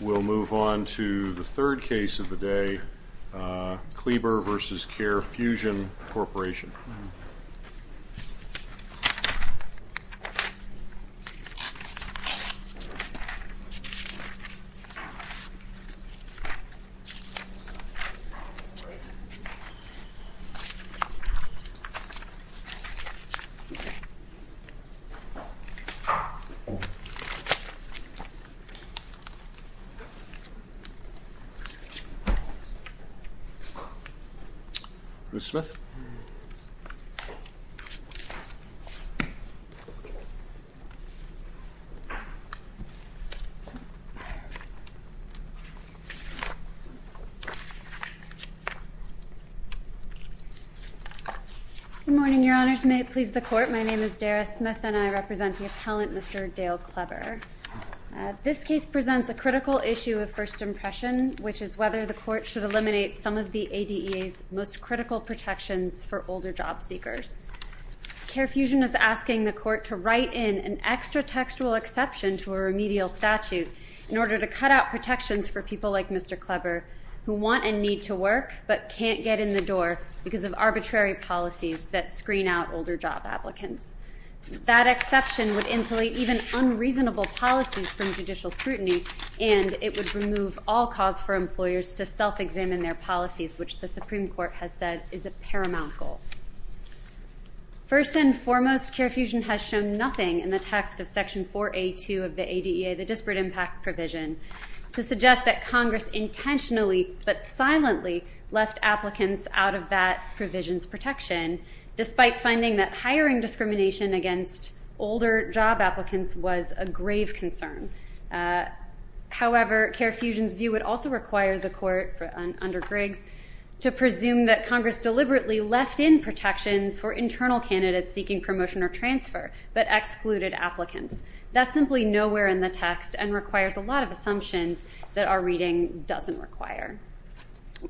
We'll move on to the third case of the day, Kleber v. CareFusion Corporation. Ms. Smith. Good morning, Your Honors. May it please the Court, my name is Dara Smith and I represent the appellant, Mr. Dale Kleber. This case presents a critical issue of first impression, which is whether the Court should eliminate some of the ADEA's most critical protections for older job seekers. CareFusion is asking the Court to write in an extra textual exception to a remedial statute in order to cut out protections for people like Mr. Kleber, who want and need to work but can't get in the door because of arbitrary policies that screen out older job applicants. That exception would insulate even unreasonable policies from judicial scrutiny, and it would remove all cause for employers to self-examine their policies, which the Supreme Court has said is a paramount goal. First and foremost, CareFusion has shown nothing in the text of Section 4A.2 of the ADEA, the disparate impact provision, to suggest that Congress intentionally but silently left applicants out of that provision's protection, despite finding that hiring discrimination against older job applicants was a grave concern. However, CareFusion's view would also require the Court, under Griggs, to presume that Congress deliberately left in protections for internal candidates seeking promotion or transfer but excluded applicants. That's simply nowhere in the text and requires a lot of assumptions that our reading doesn't require.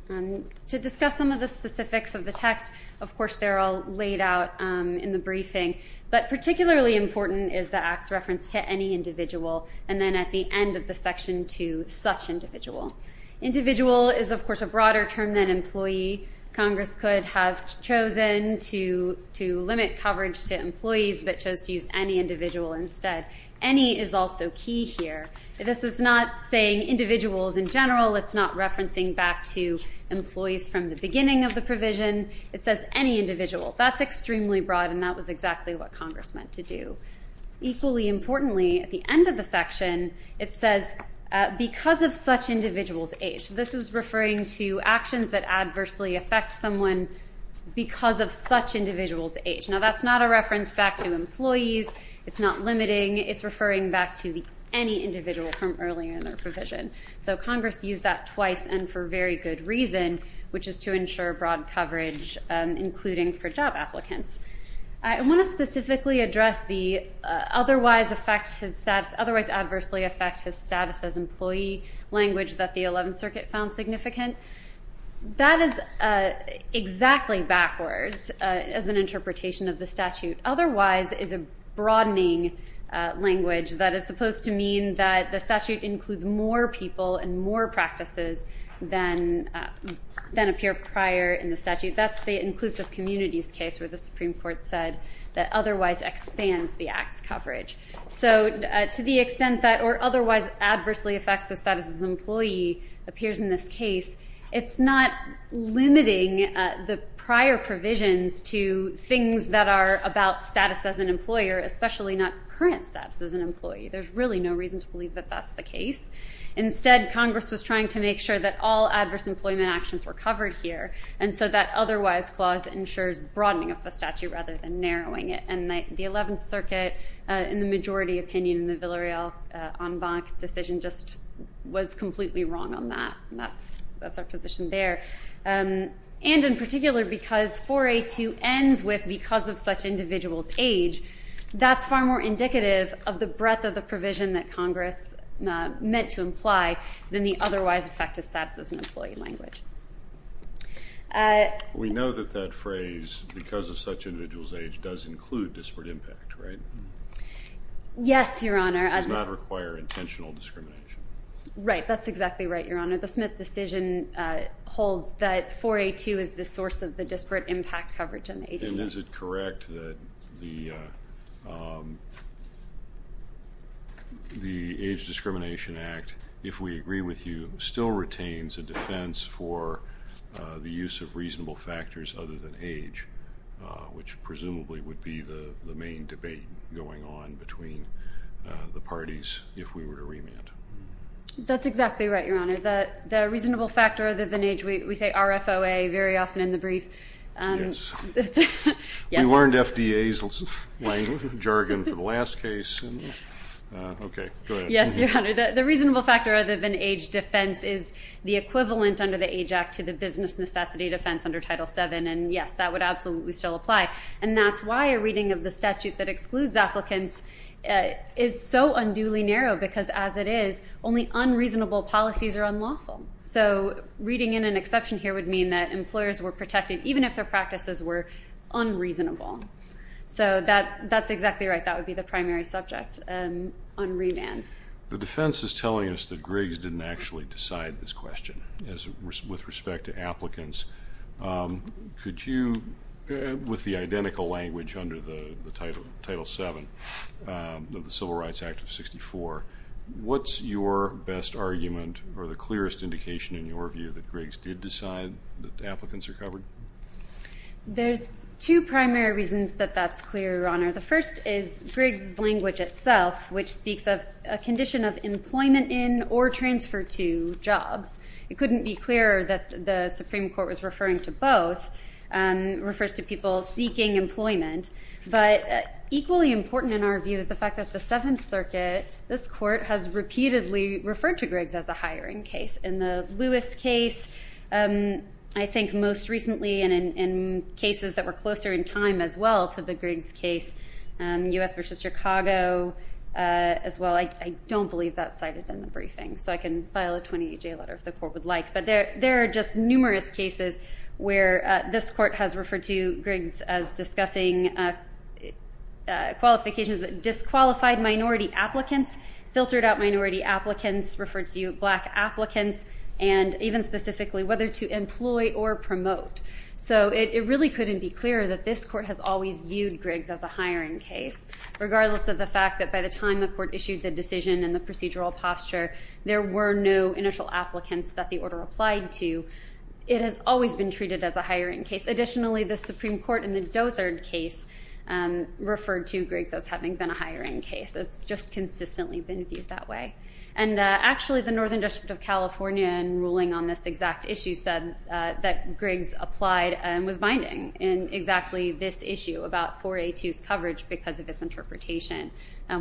To discuss some of the specifics of the text, of course they're all laid out in the briefing, but particularly important is the Act's reference to any individual, and then at the end of the section to such individual. Individual is, of course, a broader term than employee. Congress could have chosen to limit coverage to employees but chose to use any individual instead. Any is also key here. This is not saying individuals in general. It's not referencing back to employees from the beginning of the provision. It says any individual. That's extremely broad, and that was exactly what Congress meant to do. Equally importantly, at the end of the section, it says because of such individual's age. This is referring to actions that adversely affect someone because of such individual's age. Now, that's not a reference back to employees. It's not limiting. It's referring back to any individual from earlier in their provision. So Congress used that twice and for very good reason, which is to ensure broad coverage, including for job applicants. I want to specifically address the otherwise adversely affect his status as employee language that the 11th Circuit found significant. That is exactly backwards as an interpretation of the statute. Otherwise is a broadening language that is supposed to mean that the statute includes more people and more practices than appear prior in the statute. That's the inclusive communities case where the Supreme Court said that otherwise expands the act's coverage. So to the extent that or otherwise adversely affects the status as employee appears in this case, it's not limiting the prior provisions to things that are about status as an employer, especially not current status as an employee. There's really no reason to believe that that's the case. Instead, Congress was trying to make sure that all adverse employment actions were covered here, and so that otherwise clause ensures broadening of the statute rather than narrowing it. And the 11th Circuit, in the majority opinion in the Villareal-Ambach decision, just was completely wrong on that. That's our position there. And in particular, because 4A2 ends with because of such individual's age, that's far more indicative of the breadth of the provision that Congress meant to imply than the otherwise affect his status as an employee language. We know that that phrase, because of such individual's age, does include disparate impact, right? Yes, Your Honor. It does not require intentional discrimination. Right. That's exactly right, Your Honor. The Smith decision holds that 4A2 is the source of the disparate impact coverage in the agency. And is it correct that the Age Discrimination Act, if we agree with you, still retains a defense for the use of reasonable factors other than age, which presumably would be the main debate going on between the parties if we were to remand? That's exactly right, Your Honor. The reasonable factor other than age, we say RFOA very often in the brief. Yes. We learned FDA's jargon for the last case. Okay. Go ahead. Yes, Your Honor. The reasonable factor other than age defense is the equivalent under the Age Act to the business necessity defense under Title VII. And, yes, that would absolutely still apply. And that's why a reading of the statute that excludes applicants is so unduly narrow, because as it is, only unreasonable policies are unlawful. So reading in an exception here would mean that employers were protected even if their practices were unreasonable. So that's exactly right. That would be the primary subject on remand. The defense is telling us that Griggs didn't actually decide this question with respect to applicants. Could you, with the identical language under the Title VII of the Civil Rights Act of 1964, what's your best argument or the clearest indication in your view that Griggs did decide that applicants are covered? There's two primary reasons that that's clear, Your Honor. The first is Griggs' language itself, which speaks of a condition of employment in or transfer to jobs. It couldn't be clearer that the Supreme Court was referring to both. It refers to people seeking employment. But equally important in our view is the fact that the Seventh Circuit, this Court, has repeatedly referred to Griggs as a hiring case. In the Lewis case, I think most recently, and in cases that were closer in time as well to the Griggs case, U.S. versus Chicago as well, I don't believe that's cited in the briefing. So I can file a 28-J letter if the Court would like. But there are just numerous cases where this Court has referred to Griggs as discussing qualifications that disqualified minority applicants, filtered out minority applicants, referred to black applicants, and even specifically whether to employ or promote. So it really couldn't be clearer that this Court has always viewed Griggs as a hiring case, regardless of the fact that by the time the Court issued the decision and the procedural posture, there were no initial applicants that the order applied to. It has always been treated as a hiring case. Additionally, the Supreme Court in the Dothard case referred to Griggs as having been a hiring case. It's just consistently been viewed that way. And actually, the Northern District of California, in ruling on this exact issue, said that Griggs applied and was binding in exactly this issue about 4A2's coverage because of its interpretation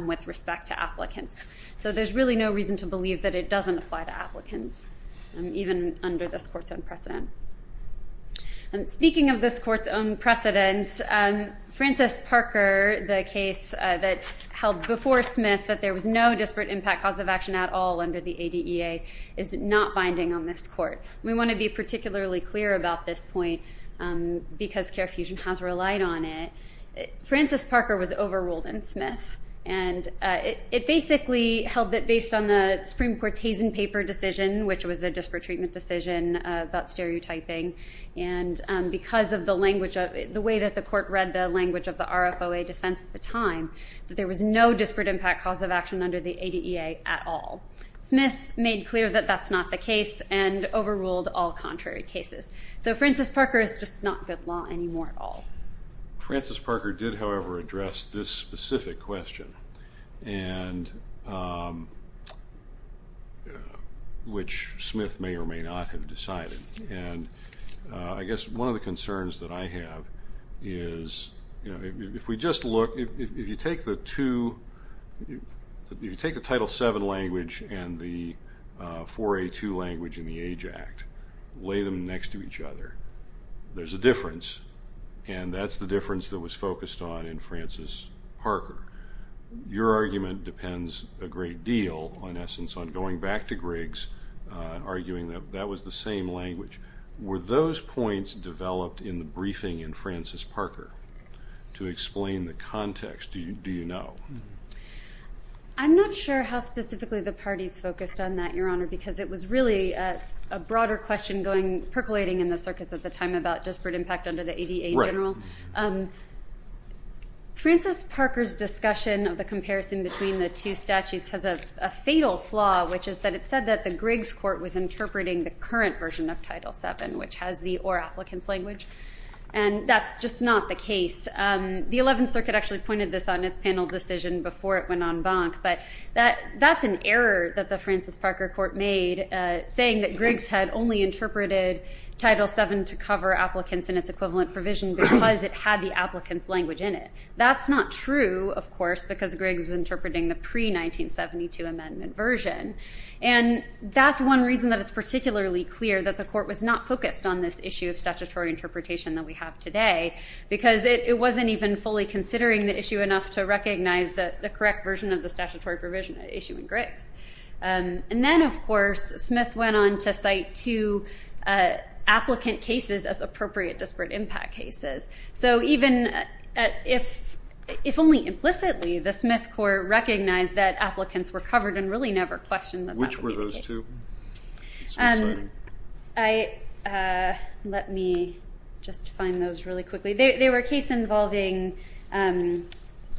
with respect to applicants. So there's really no reason to believe that it doesn't apply to applicants, even under this Court's own precedent. And speaking of this Court's own precedent, Francis Parker, the case that held before Smith that there was no disparate impact cause of action at all under the ADEA, is not binding on this Court. We want to be particularly clear about this point because CAREfusion has relied on it. Francis Parker was overruled in Smith. And it basically held that based on the Supreme Court's Hazen paper decision, which was a disparate treatment decision about stereotyping, and because of the way that the Court read the language of the RFOA defense at the time, that there was no disparate impact cause of action under the ADEA at all. Smith made clear that that's not the case and overruled all contrary cases. So Francis Parker is just not good law anymore at all. Francis Parker did, however, address this specific question, which Smith may or may not have decided. And I guess one of the concerns that I have is, you know, if we just look, if you take the Title VII language and the 4A2 language in the AJACT, lay them next to each other, there's a difference. And that's the difference that was focused on in Francis Parker. Your argument depends a great deal, in essence, on going back to Griggs, arguing that that was the same language. Were those points developed in the briefing in Francis Parker to explain the context? Do you know? I'm not sure how specifically the parties focused on that, Your Honor, because it was really a broader question percolating in the circuits at the time about disparate impact under the ADEA in general. Right. Francis Parker's discussion of the comparison between the two statutes has a fatal flaw, which is that it said that the Griggs Court was interpreting the current version of Title VII, which has the or applicants language, and that's just not the case. The Eleventh Circuit actually pointed this out in its panel decision before it went en banc, but that's an error that the Francis Parker Court made, saying that Griggs had only interpreted Title VII to cover applicants in its equivalent provision because it had the applicants language in it. That's not true, of course, because Griggs was interpreting the pre-1972 amendment version, and that's one reason that it's particularly clear that the Court was not focused on this issue of statutory interpretation that we have today, because it wasn't even fully considering the issue enough to recognize the correct version of the statutory provision at issue in Griggs. And then, of course, Smith went on to cite two applicant cases as appropriate disparate impact cases. So even if only implicitly the Smith Court recognized that applicants were covered and really never questioned that that would be the case. Which were those two? Let me just find those really quickly. They were a case involving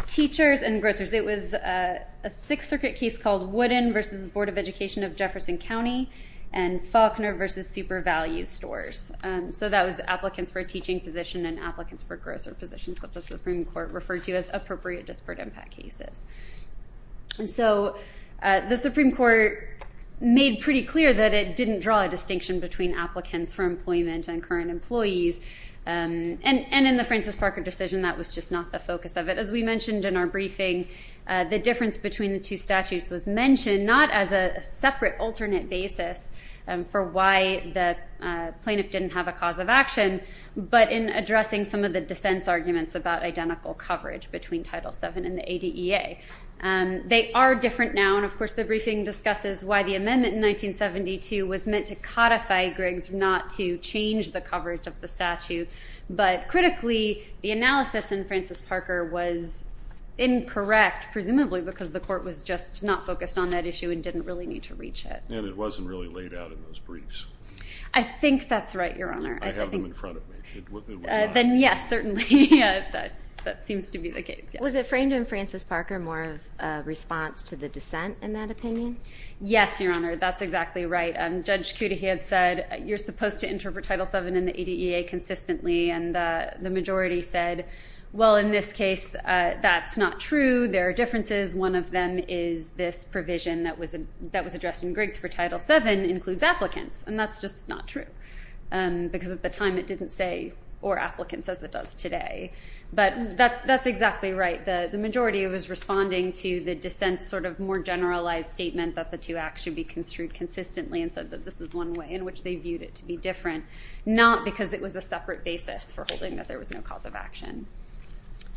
teachers and grocers. It was a Sixth Circuit case called Woodin v. Board of Education of Jefferson County and Faulkner v. Super Value Stores. So that was applicants for a teaching position and applicants for grocer positions that the Supreme Court referred to as appropriate disparate impact cases. And so the Supreme Court made pretty clear that it didn't draw a distinction between applicants for employment and current employees. And in the Francis Parker decision, that was just not the focus of it. As we mentioned in our briefing, the difference between the two statutes was mentioned, not as a separate alternate basis for why the plaintiff didn't have a cause of action, but in addressing some of the dissent's arguments about identical coverage between Title VII and the ADEA. They are different now. And, of course, the briefing discusses why the amendment in 1972 was meant to codify Griggs, not to change the coverage of the statute. But critically, the analysis in Francis Parker was incorrect, presumably because the court was just not focused on that issue and didn't really need to reach it. And it wasn't really laid out in those briefs. I think that's right, Your Honor. I have them in front of me. Then, yes, certainly that seems to be the case. Was it framed in Francis Parker more of a response to the dissent in that opinion? Yes, Your Honor. That's exactly right. Judge Cudahy had said you're supposed to interpret Title VII and the ADEA consistently, and the majority said, well, in this case, that's not true. There are differences. One of them is this provision that was addressed in Griggs for Title VII includes applicants, and that's just not true because at the time it didn't say or applicants as it does today. But that's exactly right. The majority was responding to the dissent's sort of more generalized statement that the two acts should be construed consistently and said that this is one way in which they viewed it to be different, not because it was a separate basis for holding that there was no cause of action.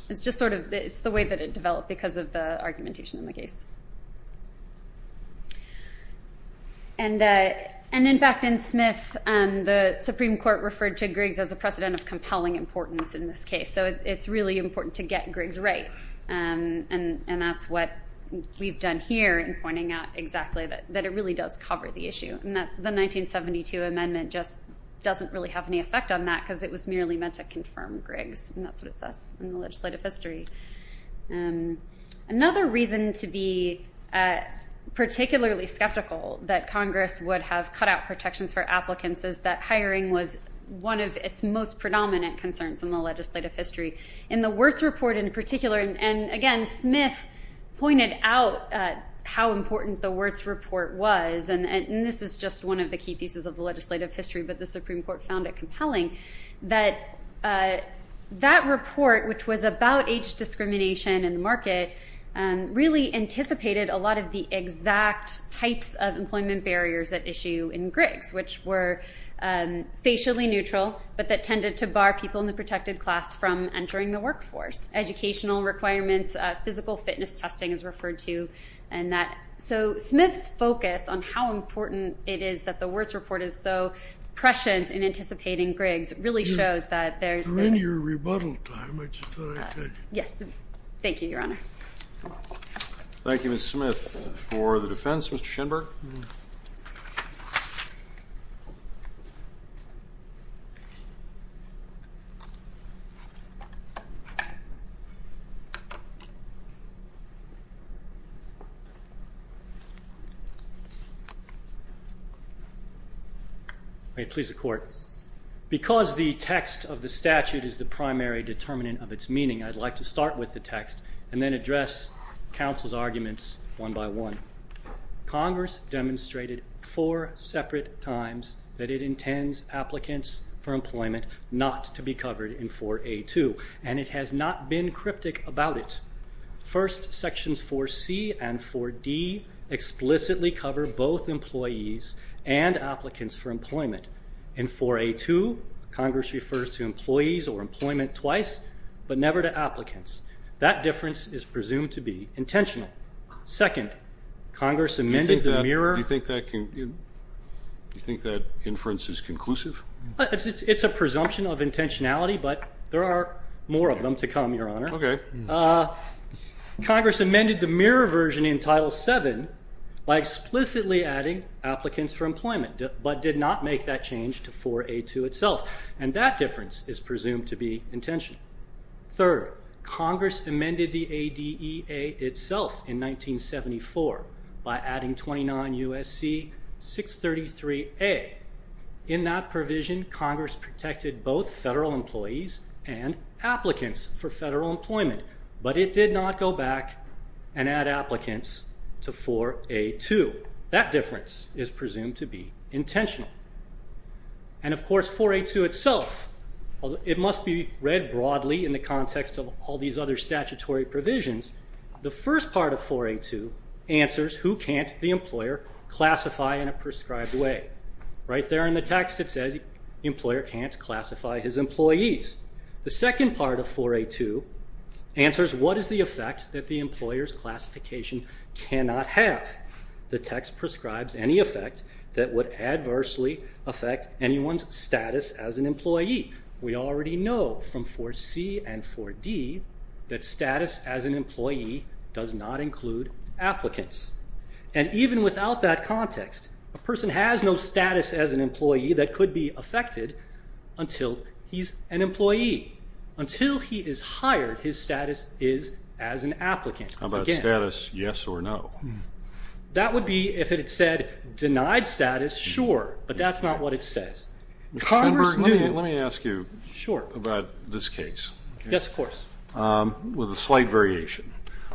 It's just sort of the way that it developed because of the argumentation in the case. And, in fact, in Smith, the Supreme Court referred to Griggs as a precedent of compelling importance in this case, so it's really important to get Griggs right, and that's what we've done here in pointing out exactly that it really does cover the issue, and that the 1972 amendment just doesn't really have any effect on that because it was merely meant to confirm Griggs, and that's what it says in the legislative history. Another reason to be particularly skeptical that Congress would have cut out protections for applicants is that hiring was one of its most predominant concerns in the legislative history. In the Wirtz Report in particular, and, again, Smith pointed out how important the Wirtz Report was, and this is just one of the key pieces of the legislative history, but the Supreme Court found it compelling, that that report, which was about age discrimination in the market, really anticipated a lot of the exact types of employment barriers at issue in Griggs, which were facially neutral but that tended to bar people in the protected class from entering the workforce, educational requirements, physical fitness testing is referred to, and that. So Smith's focus on how important it is that the Wirtz Report is so prescient in anticipating Griggs really shows that there is. We're in your rebuttal time, I just thought I'd tell you. Yes. Thank you, Your Honor. Thank you, Ms. Smith. For the defense, Mr. Schenberg. Please, the Court. Because the text of the statute is the primary determinant of its meaning, I'd like to start with the text and then address counsel's arguments one by one. Congress demonstrated four separate times that it intends applicants for employment not to be covered in 4A.2, and it has not been cryptic about it. First, sections 4C and 4D explicitly cover both employees and applicants for employment. In 4A.2, Congress refers to employees or employment twice but never to applicants. That difference is presumed to be intentional. Second, Congress amended the mirror. Do you think that inference is conclusive? It's a presumption of intentionality, but there are more of them to come, Your Honor. Okay. Congress amended the mirror version in Title VII by explicitly adding applicants for employment but did not make that change to 4A.2 itself, and that difference is presumed to be intentional. Third, Congress amended the ADEA itself in 1974 by adding 29 U.S.C. 633A. In that provision, Congress protected both federal employees and applicants for federal employment, but it did not go back and add applicants to 4A.2. That difference is presumed to be intentional. And, of course, 4A.2 itself, it must be read broadly in the context of all these other statutory provisions. The first part of 4A.2 answers who can't the employer classify in a prescribed way. Right there in the text it says the employer can't classify his employees. The second part of 4A.2 answers what is the effect that the employer's classification cannot have. The text prescribes any effect that would adversely affect anyone's status as an employee. We already know from 4C and 4D that status as an employee does not include applicants. And even without that context, a person has no status as an employee that could be affected until he's an employee. Until he is hired, his status is as an applicant. How about status, yes or no? That would be if it said denied status, sure, but that's not what it says. Mr. Schenberg, let me ask you about this case. Yes, of course. With a slight variation.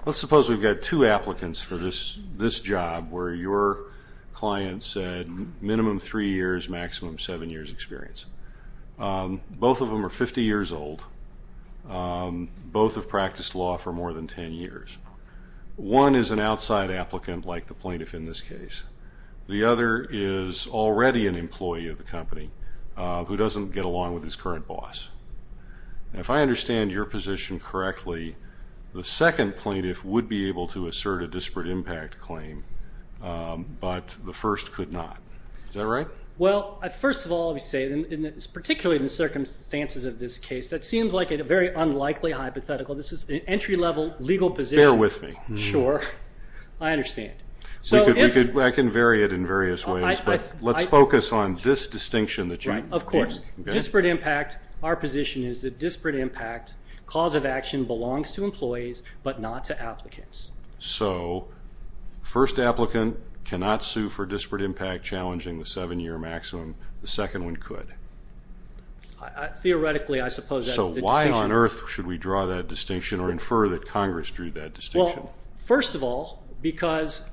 Let's suppose we've got two applicants for this job where your client said minimum three years, maximum seven years experience. Both of them are 50 years old. Both have practiced law for more than ten years. One is an outside applicant like the plaintiff in this case. The other is already an employee of the company who doesn't get along with his current boss. If I understand your position correctly, the second plaintiff would be able to assert a disparate impact claim, but the first could not. Is that right? Well, first of all, we say, particularly in the circumstances of this case, that seems like a very unlikely hypothetical. This is an entry-level legal position. Bear with me. Sure. I understand. I can vary it in various ways, but let's focus on this distinction that you've given. Right, of course. Disparate impact. Our position is that disparate impact cause of action belongs to employees, but not to applicants. So, first applicant cannot sue for disparate impact challenging the seven-year maximum. The second one could. Theoretically, I suppose that's the distinction. So why on earth should we draw that distinction or infer that Congress drew that distinction? Well, first of all, because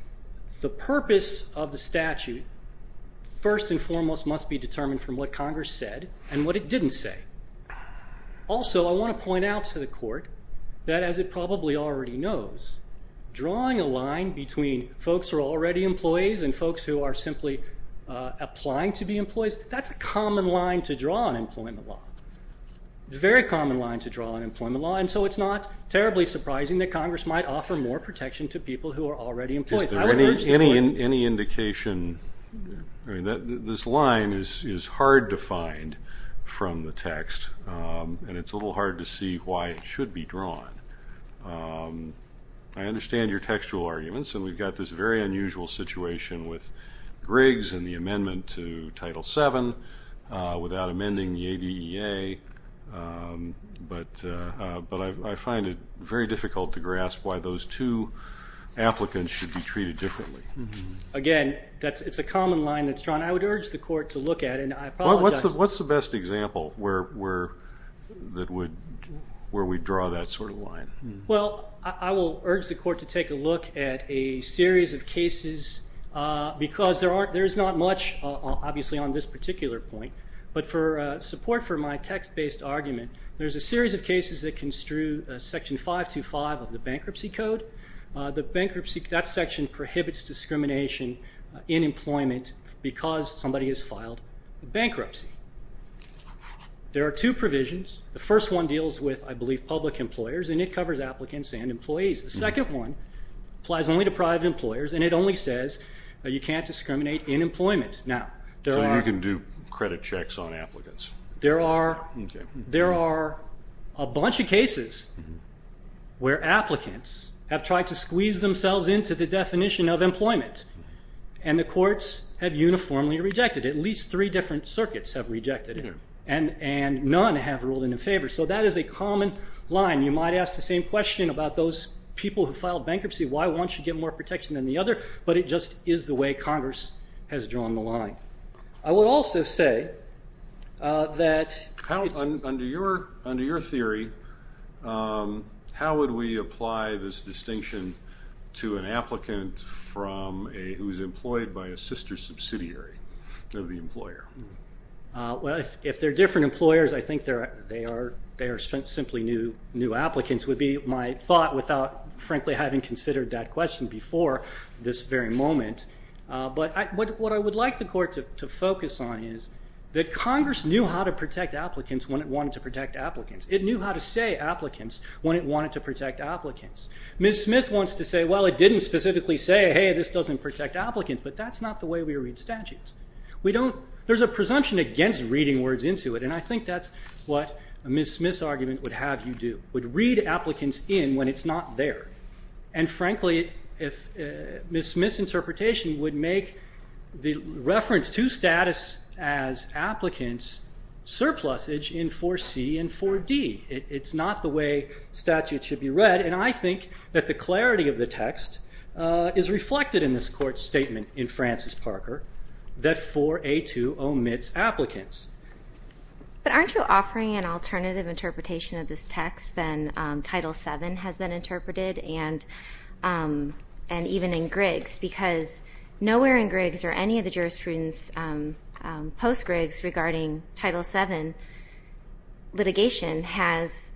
the purpose of the statute, first and foremost, must be determined from what Congress said and what it didn't say. Also, I want to point out to the court that, as it probably already knows, drawing a line between folks who are already employees and folks who are simply applying to be employees, that's a common line to draw in employment law, a very common line to draw in employment law. And so it's not terribly surprising that Congress might offer more protection to people who are already employees. Any indication? This line is hard to find from the text, and it's a little hard to see why it should be drawn. I understand your textual arguments, and we've got this very unusual situation with Griggs and the amendment to Title VII without amending the ADEA, but I find it very difficult to grasp why those two applicants should be treated differently. Again, it's a common line that's drawn. I would urge the court to look at it, and I apologize. What's the best example where we draw that sort of line? Well, I will urge the court to take a look at a series of cases because there's not much, obviously, on this particular point. But for support for my text-based argument, there's a series of cases that construe Section 525 of the Bankruptcy Code. That section prohibits discrimination in employment because somebody has filed bankruptcy. There are two provisions. The first one deals with, I believe, public employers, and it covers applicants and employees. The second one applies only to private employers, and it only says you can't discriminate in employment. So you can do credit checks on applicants. There are a bunch of cases where applicants have tried to squeeze themselves into the definition of employment, and the courts have uniformly rejected it. At least three different circuits have rejected it, and none have ruled it in favor. So that is a common line. You might ask the same question about those people who filed bankruptcy, why won't you get more protection than the other? But it just is the way Congress has drawn the line. I would also say that under your theory, how would we apply this distinction to an applicant who is employed by a sister subsidiary of the employer? Well, if they're different employers, I think they are simply new applicants, would be my thought without, frankly, having considered that question before this very moment. But what I would like the Court to focus on is that Congress knew how to protect applicants when it wanted to protect applicants. It knew how to say applicants when it wanted to protect applicants. Ms. Smith wants to say, well, it didn't specifically say, hey, this doesn't protect applicants, but that's not the way we read statutes. There's a presumption against reading words into it, and I think that's what Ms. Smith's argument would have you do, would read applicants in when it's not there. And frankly, Ms. Smith's interpretation would make the reference to status as applicants surplusage in 4C and 4D. It's not the way statutes should be read, and I think that the clarity of the text is reflected in this Court's statement in Francis Parker that 4A2 omits applicants. But aren't you offering an alternative interpretation of this text than Title VII has been interpreted, and even in Griggs, because nowhere in Griggs or any of the jurisprudence post-Griggs regarding Title VII litigation has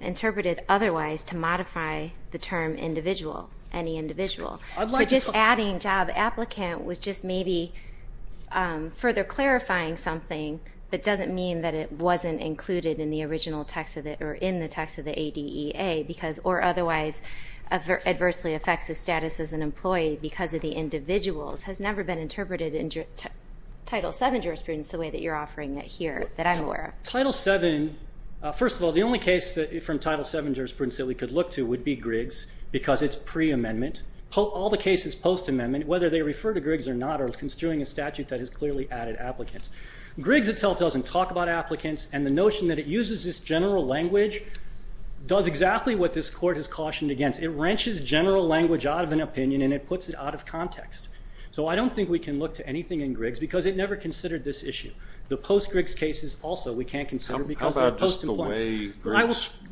interpreted otherwise to modify the term individual, any individual. So just adding job applicant was just maybe further clarifying something, but doesn't mean that it wasn't included in the original text or in the text of the ADEA, or otherwise adversely affects the status as an employee because of the individuals, has never been interpreted in Title VII jurisprudence the way that you're offering it here that I'm aware of. Title VII, first of all, the only case from Title VII jurisprudence that we could look to would be Griggs because it's pre-amendment. All the cases post-amendment, whether they refer to Griggs or not, are construing a statute that has clearly added applicants. Griggs itself doesn't talk about applicants, and the notion that it uses this general language does exactly what this Court has cautioned against. It wrenches general language out of an opinion, and it puts it out of context. So I don't think we can look to anything in Griggs because it never considered this issue. The post-Griggs cases also we can't consider because they're post-employment.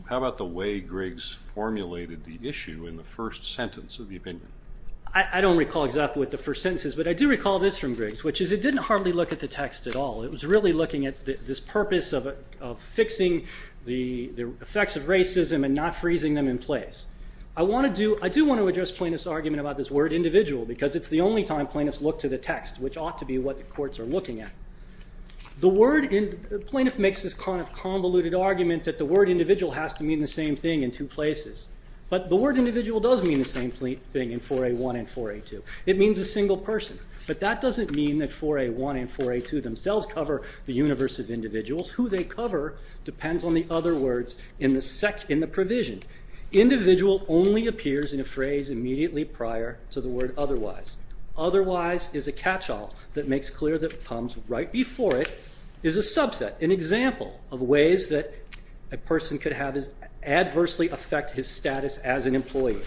How about the way Griggs formulated the issue in the first sentence of the opinion? I don't recall exactly what the first sentence is, but I do recall this from Griggs, which is it didn't hardly look at the text at all. It was really looking at this purpose of fixing the effects of racism and not freezing them in place. I do want to address plaintiff's argument about this word individual because it's the only time plaintiffs look to the text, which ought to be what the courts are looking at. The word plaintiff makes this kind of convoluted argument that the word individual has to mean the same thing in two places. But the word individual does mean the same thing in 4A1 and 4A2. It means a single person. But that doesn't mean that 4A1 and 4A2 themselves cover the universe of individuals. Who they cover depends on the other words in the provision. Individual only appears in a phrase immediately prior to the word otherwise. Otherwise is a catch-all that makes clear that comes right before it is a subset, an example of ways that a person could adversely affect his status as an employee.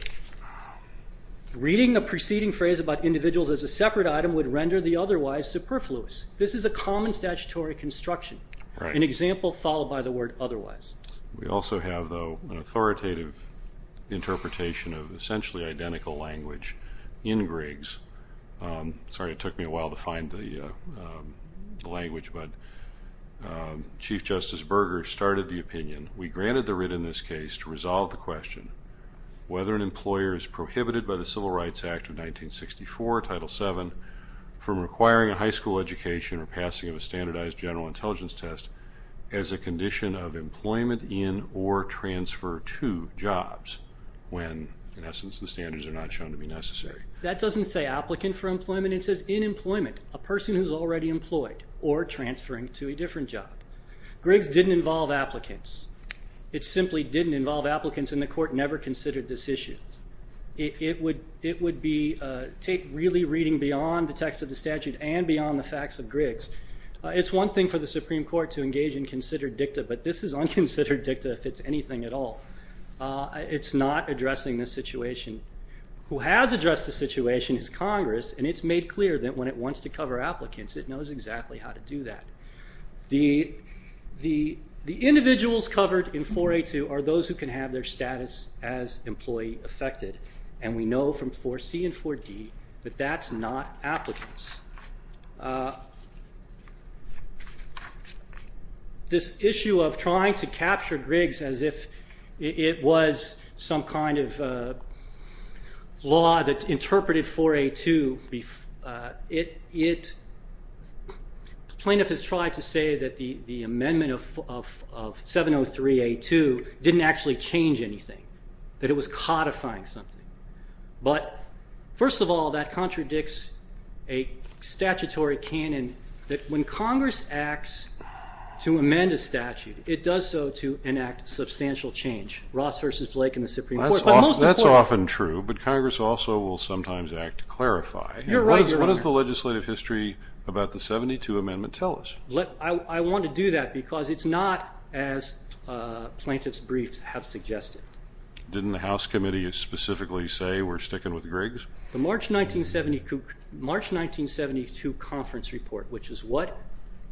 Reading a preceding phrase about individuals as a separate item would render the otherwise superfluous. This is a common statutory construction, an example followed by the word otherwise. We also have, though, an authoritative interpretation of essentially identical language in Griggs. Sorry, it took me a while to find the language, but Chief Justice Berger started the opinion. We granted the writ in this case to resolve the question, whether an employer is prohibited by the Civil Rights Act of 1964, Title VII, from requiring a high school education or passing of a standardized general intelligence test as a condition of employment in or transfer to jobs when, in essence, the standards are not shown to be necessary. That doesn't say applicant for employment. It says in employment, a person who is already employed or transferring to a different job. Griggs didn't involve applicants. It simply didn't involve applicants, and the Court never considered this issue. It would be really reading beyond the text of the statute and beyond the facts of Griggs. It's one thing for the Supreme Court to engage in considered dicta, but this is unconsidered dicta if it's anything at all. It's not addressing this situation. Who has addressed the situation is Congress, and it's made clear that when it wants to cover applicants, it knows exactly how to do that. The individuals covered in 4A.2 are those who can have their status as employee affected, and we know from 4C and 4D that that's not applicants. This issue of trying to capture Griggs as if it was some kind of law that interpreted 4A.2, plaintiff has tried to say that the amendment of 703A.2 didn't actually change anything, that it was codifying something. But, first of all, that contradicts a statutory canon that when Congress acts to amend a statute, it does so to enact substantial change. Ross versus Blake in the Supreme Court. That's often true, but Congress also will sometimes act to clarify. You're right, Your Honor. What does the legislative history about the 72 amendment tell us? I want to do that because it's not as plaintiff's briefs have suggested. Didn't the House Committee specifically say we're sticking with Griggs? The March 1972 conference report, which is what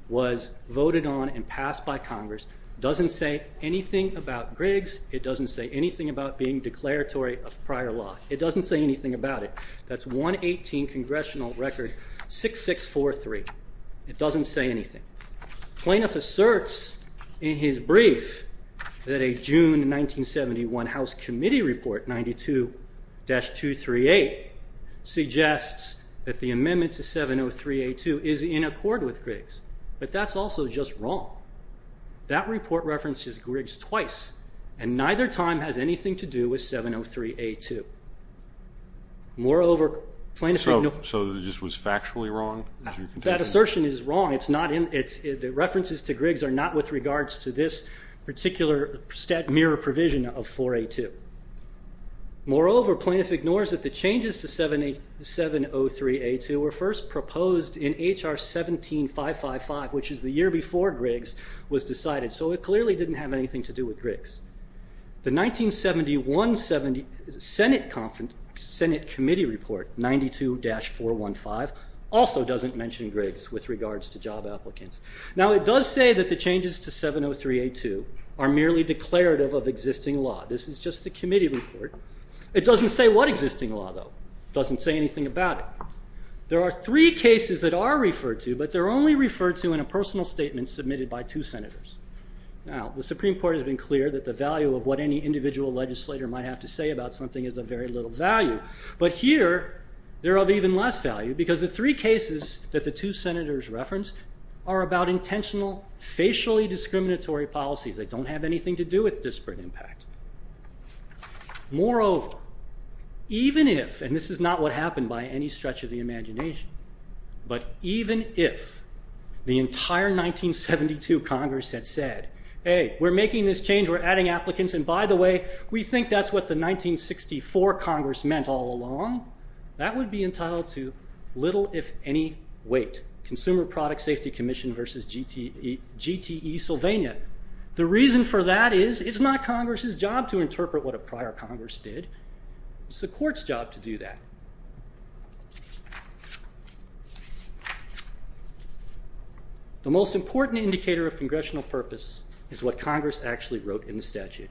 was voted on and passed by Congress, doesn't say anything about Griggs. It doesn't say anything about being declaratory of prior law. It doesn't say anything about it. That's 118 Congressional Record 6643. It doesn't say anything. Plaintiff asserts in his brief that a June 1971 House Committee report, 92-238, suggests that the amendment to 703A2 is in accord with Griggs. But that's also just wrong. That report references Griggs twice, and neither time has anything to do with 703A2. So it just was factually wrong? That assertion is wrong. The references to Griggs are not with regards to this particular mirror provision of 4A2. Moreover, plaintiff ignores that the changes to 703A2 were first proposed in HR 17555, which is the year before Griggs was decided. The 1971 Senate Committee report, 92-415, also doesn't mention Griggs with regards to job applicants. Now, it does say that the changes to 703A2 are merely declarative of existing law. This is just the committee report. It doesn't say what existing law, though. It doesn't say anything about it. There are three cases that are referred to, but they're only referred to in a personal statement submitted by two senators. Now, the Supreme Court has been clear that the value of what any individual legislator might have to say about something is of very little value. But here, they're of even less value because the three cases that the two senators referenced are about intentional, facially discriminatory policies that don't have anything to do with disparate impact. Moreover, even if, and this is not what happened by any stretch of the imagination, but even if the entire 1972 Congress had said, hey, we're making this change, we're adding applicants, and by the way, we think that's what the 1964 Congress meant all along, that would be entitled to little if any weight. Consumer Product Safety Commission versus GTE Sylvania. The reason for that is it's not Congress's job to interpret what a prior Congress did. It's the Court's job to do that. The most important indicator of congressional purpose is what Congress actually wrote in the statute.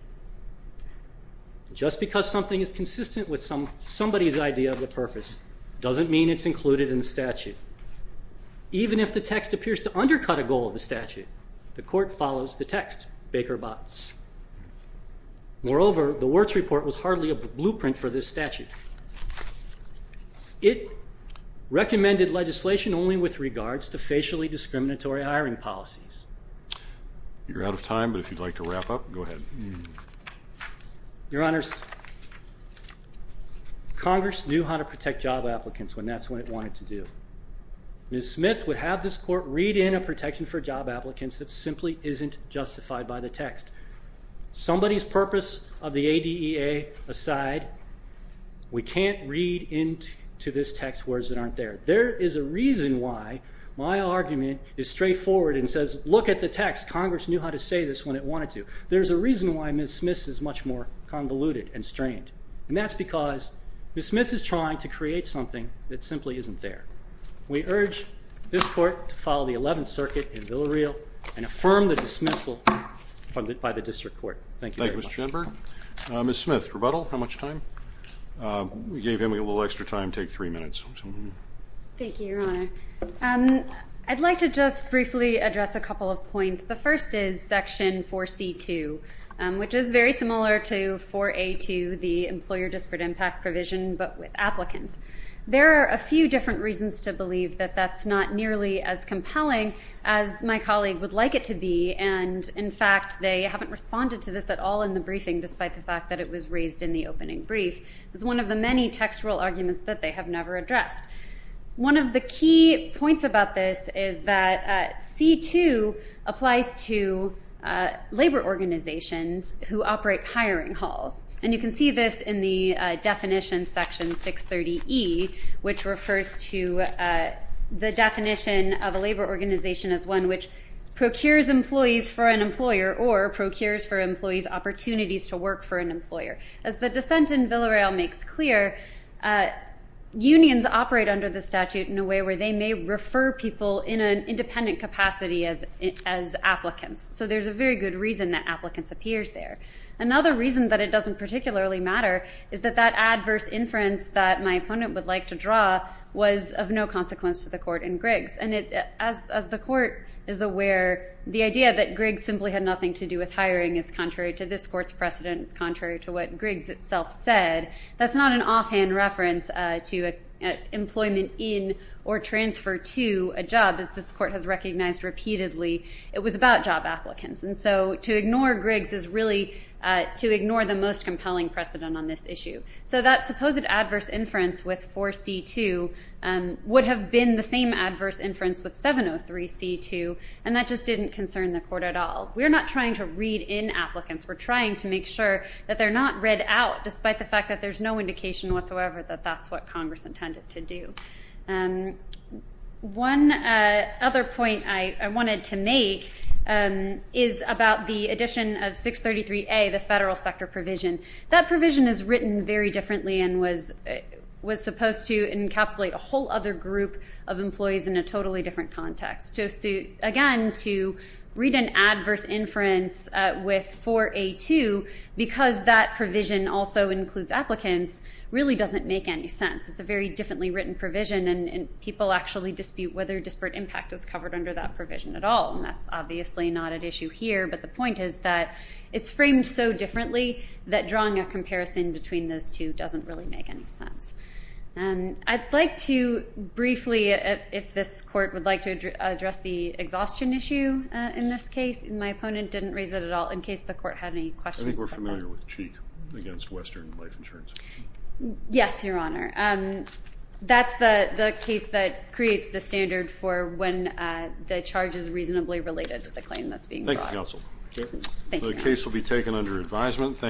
Just because something is consistent with somebody's idea of the purpose doesn't mean it's included in the statute. Even if the text appears to undercut a goal of the statute, the Court follows the text, Baker Botts. Moreover, the Wirtz Report was hardly a blueprint for this statute. It recommended legislation only with regards to facially discriminatory hiring policies. You're out of time, but if you'd like to wrap up, go ahead. Your Honors, Congress knew how to protect job applicants when that's what it wanted to do. Ms. Smith would have this Court read in a protection for job applicants that simply isn't justified by the text. Somebody's purpose of the ADEA aside, we can't read into this text words that aren't there. There is a reason why my argument is straightforward and says, look at the text, Congress knew how to say this when it wanted to. There's a reason why Ms. Smith is much more convoluted and strained, and that's because Ms. Smith is trying to create something that simply isn't there. We urge this Court to follow the Eleventh Circuit in Villareal and affirm the dismissal funded by the District Court. Thank you very much. Thank you, Mr. Jenberg. Ms. Smith, rebuttal? How much time? You gave him a little extra time. Take three minutes. Thank you, Your Honor. I'd like to just briefly address a couple of points. The first is Section 4C2, which is very similar to 4A2, the employer disparate impact provision, but with applicants. There are a few different reasons to believe that that's not nearly as compelling as my colleague would like it to be, and, in fact, they haven't responded to this at all in the briefing, despite the fact that it was raised in the opening brief. It's one of the many textual arguments that they have never addressed. One of the key points about this is that C2 applies to labor organizations who operate hiring halls, and you can see this in the definition, Section 630E, which refers to the definition of a labor organization as one which procures employees for an employer or procures for employees opportunities to work for an employer. As the dissent in Villareal makes clear, unions operate under the statute in a way where they may refer people in an independent capacity as applicants. So there's a very good reason that applicants appears there. Another reason that it doesn't particularly matter is that that adverse inference that my opponent would like to draw was of no consequence to the court in Griggs. And as the court is aware, the idea that Griggs simply had nothing to do with hiring is contrary to this court's precedent. It's contrary to what Griggs itself said. That's not an offhand reference to employment in or transfer to a job, as this court has recognized repeatedly. It was about job applicants. And so to ignore Griggs is really to ignore the most compelling precedent on this issue. So that supposed adverse inference with 4C2 would have been the same adverse inference with 703C2, and that just didn't concern the court at all. We're not trying to read in applicants. We're trying to make sure that they're not read out, despite the fact that there's no indication whatsoever that that's what Congress intended to do. One other point I wanted to make is about the addition of 633A, the federal sector provision. That provision is written very differently and was supposed to encapsulate a whole other group of employees in a totally different context. Again, to read an adverse inference with 4A2, because that provision also includes applicants, really doesn't make any sense. It's a very differently written provision, and people actually dispute whether disparate impact is covered under that provision at all. And that's obviously not at issue here. But the point is that it's framed so differently that drawing a comparison between those two doesn't really make any sense. I'd like to briefly, if this court would like to address the exhaustion issue in this case. My opponent didn't raise it at all, in case the court had any questions about that. I think we're familiar with Cheek against Western Life Insurance. Yes, Your Honor. That's the case that creates the standard for when the charge is reasonably related to the claim that's being brought. Thank you, Counsel. The case will be taken under advisement.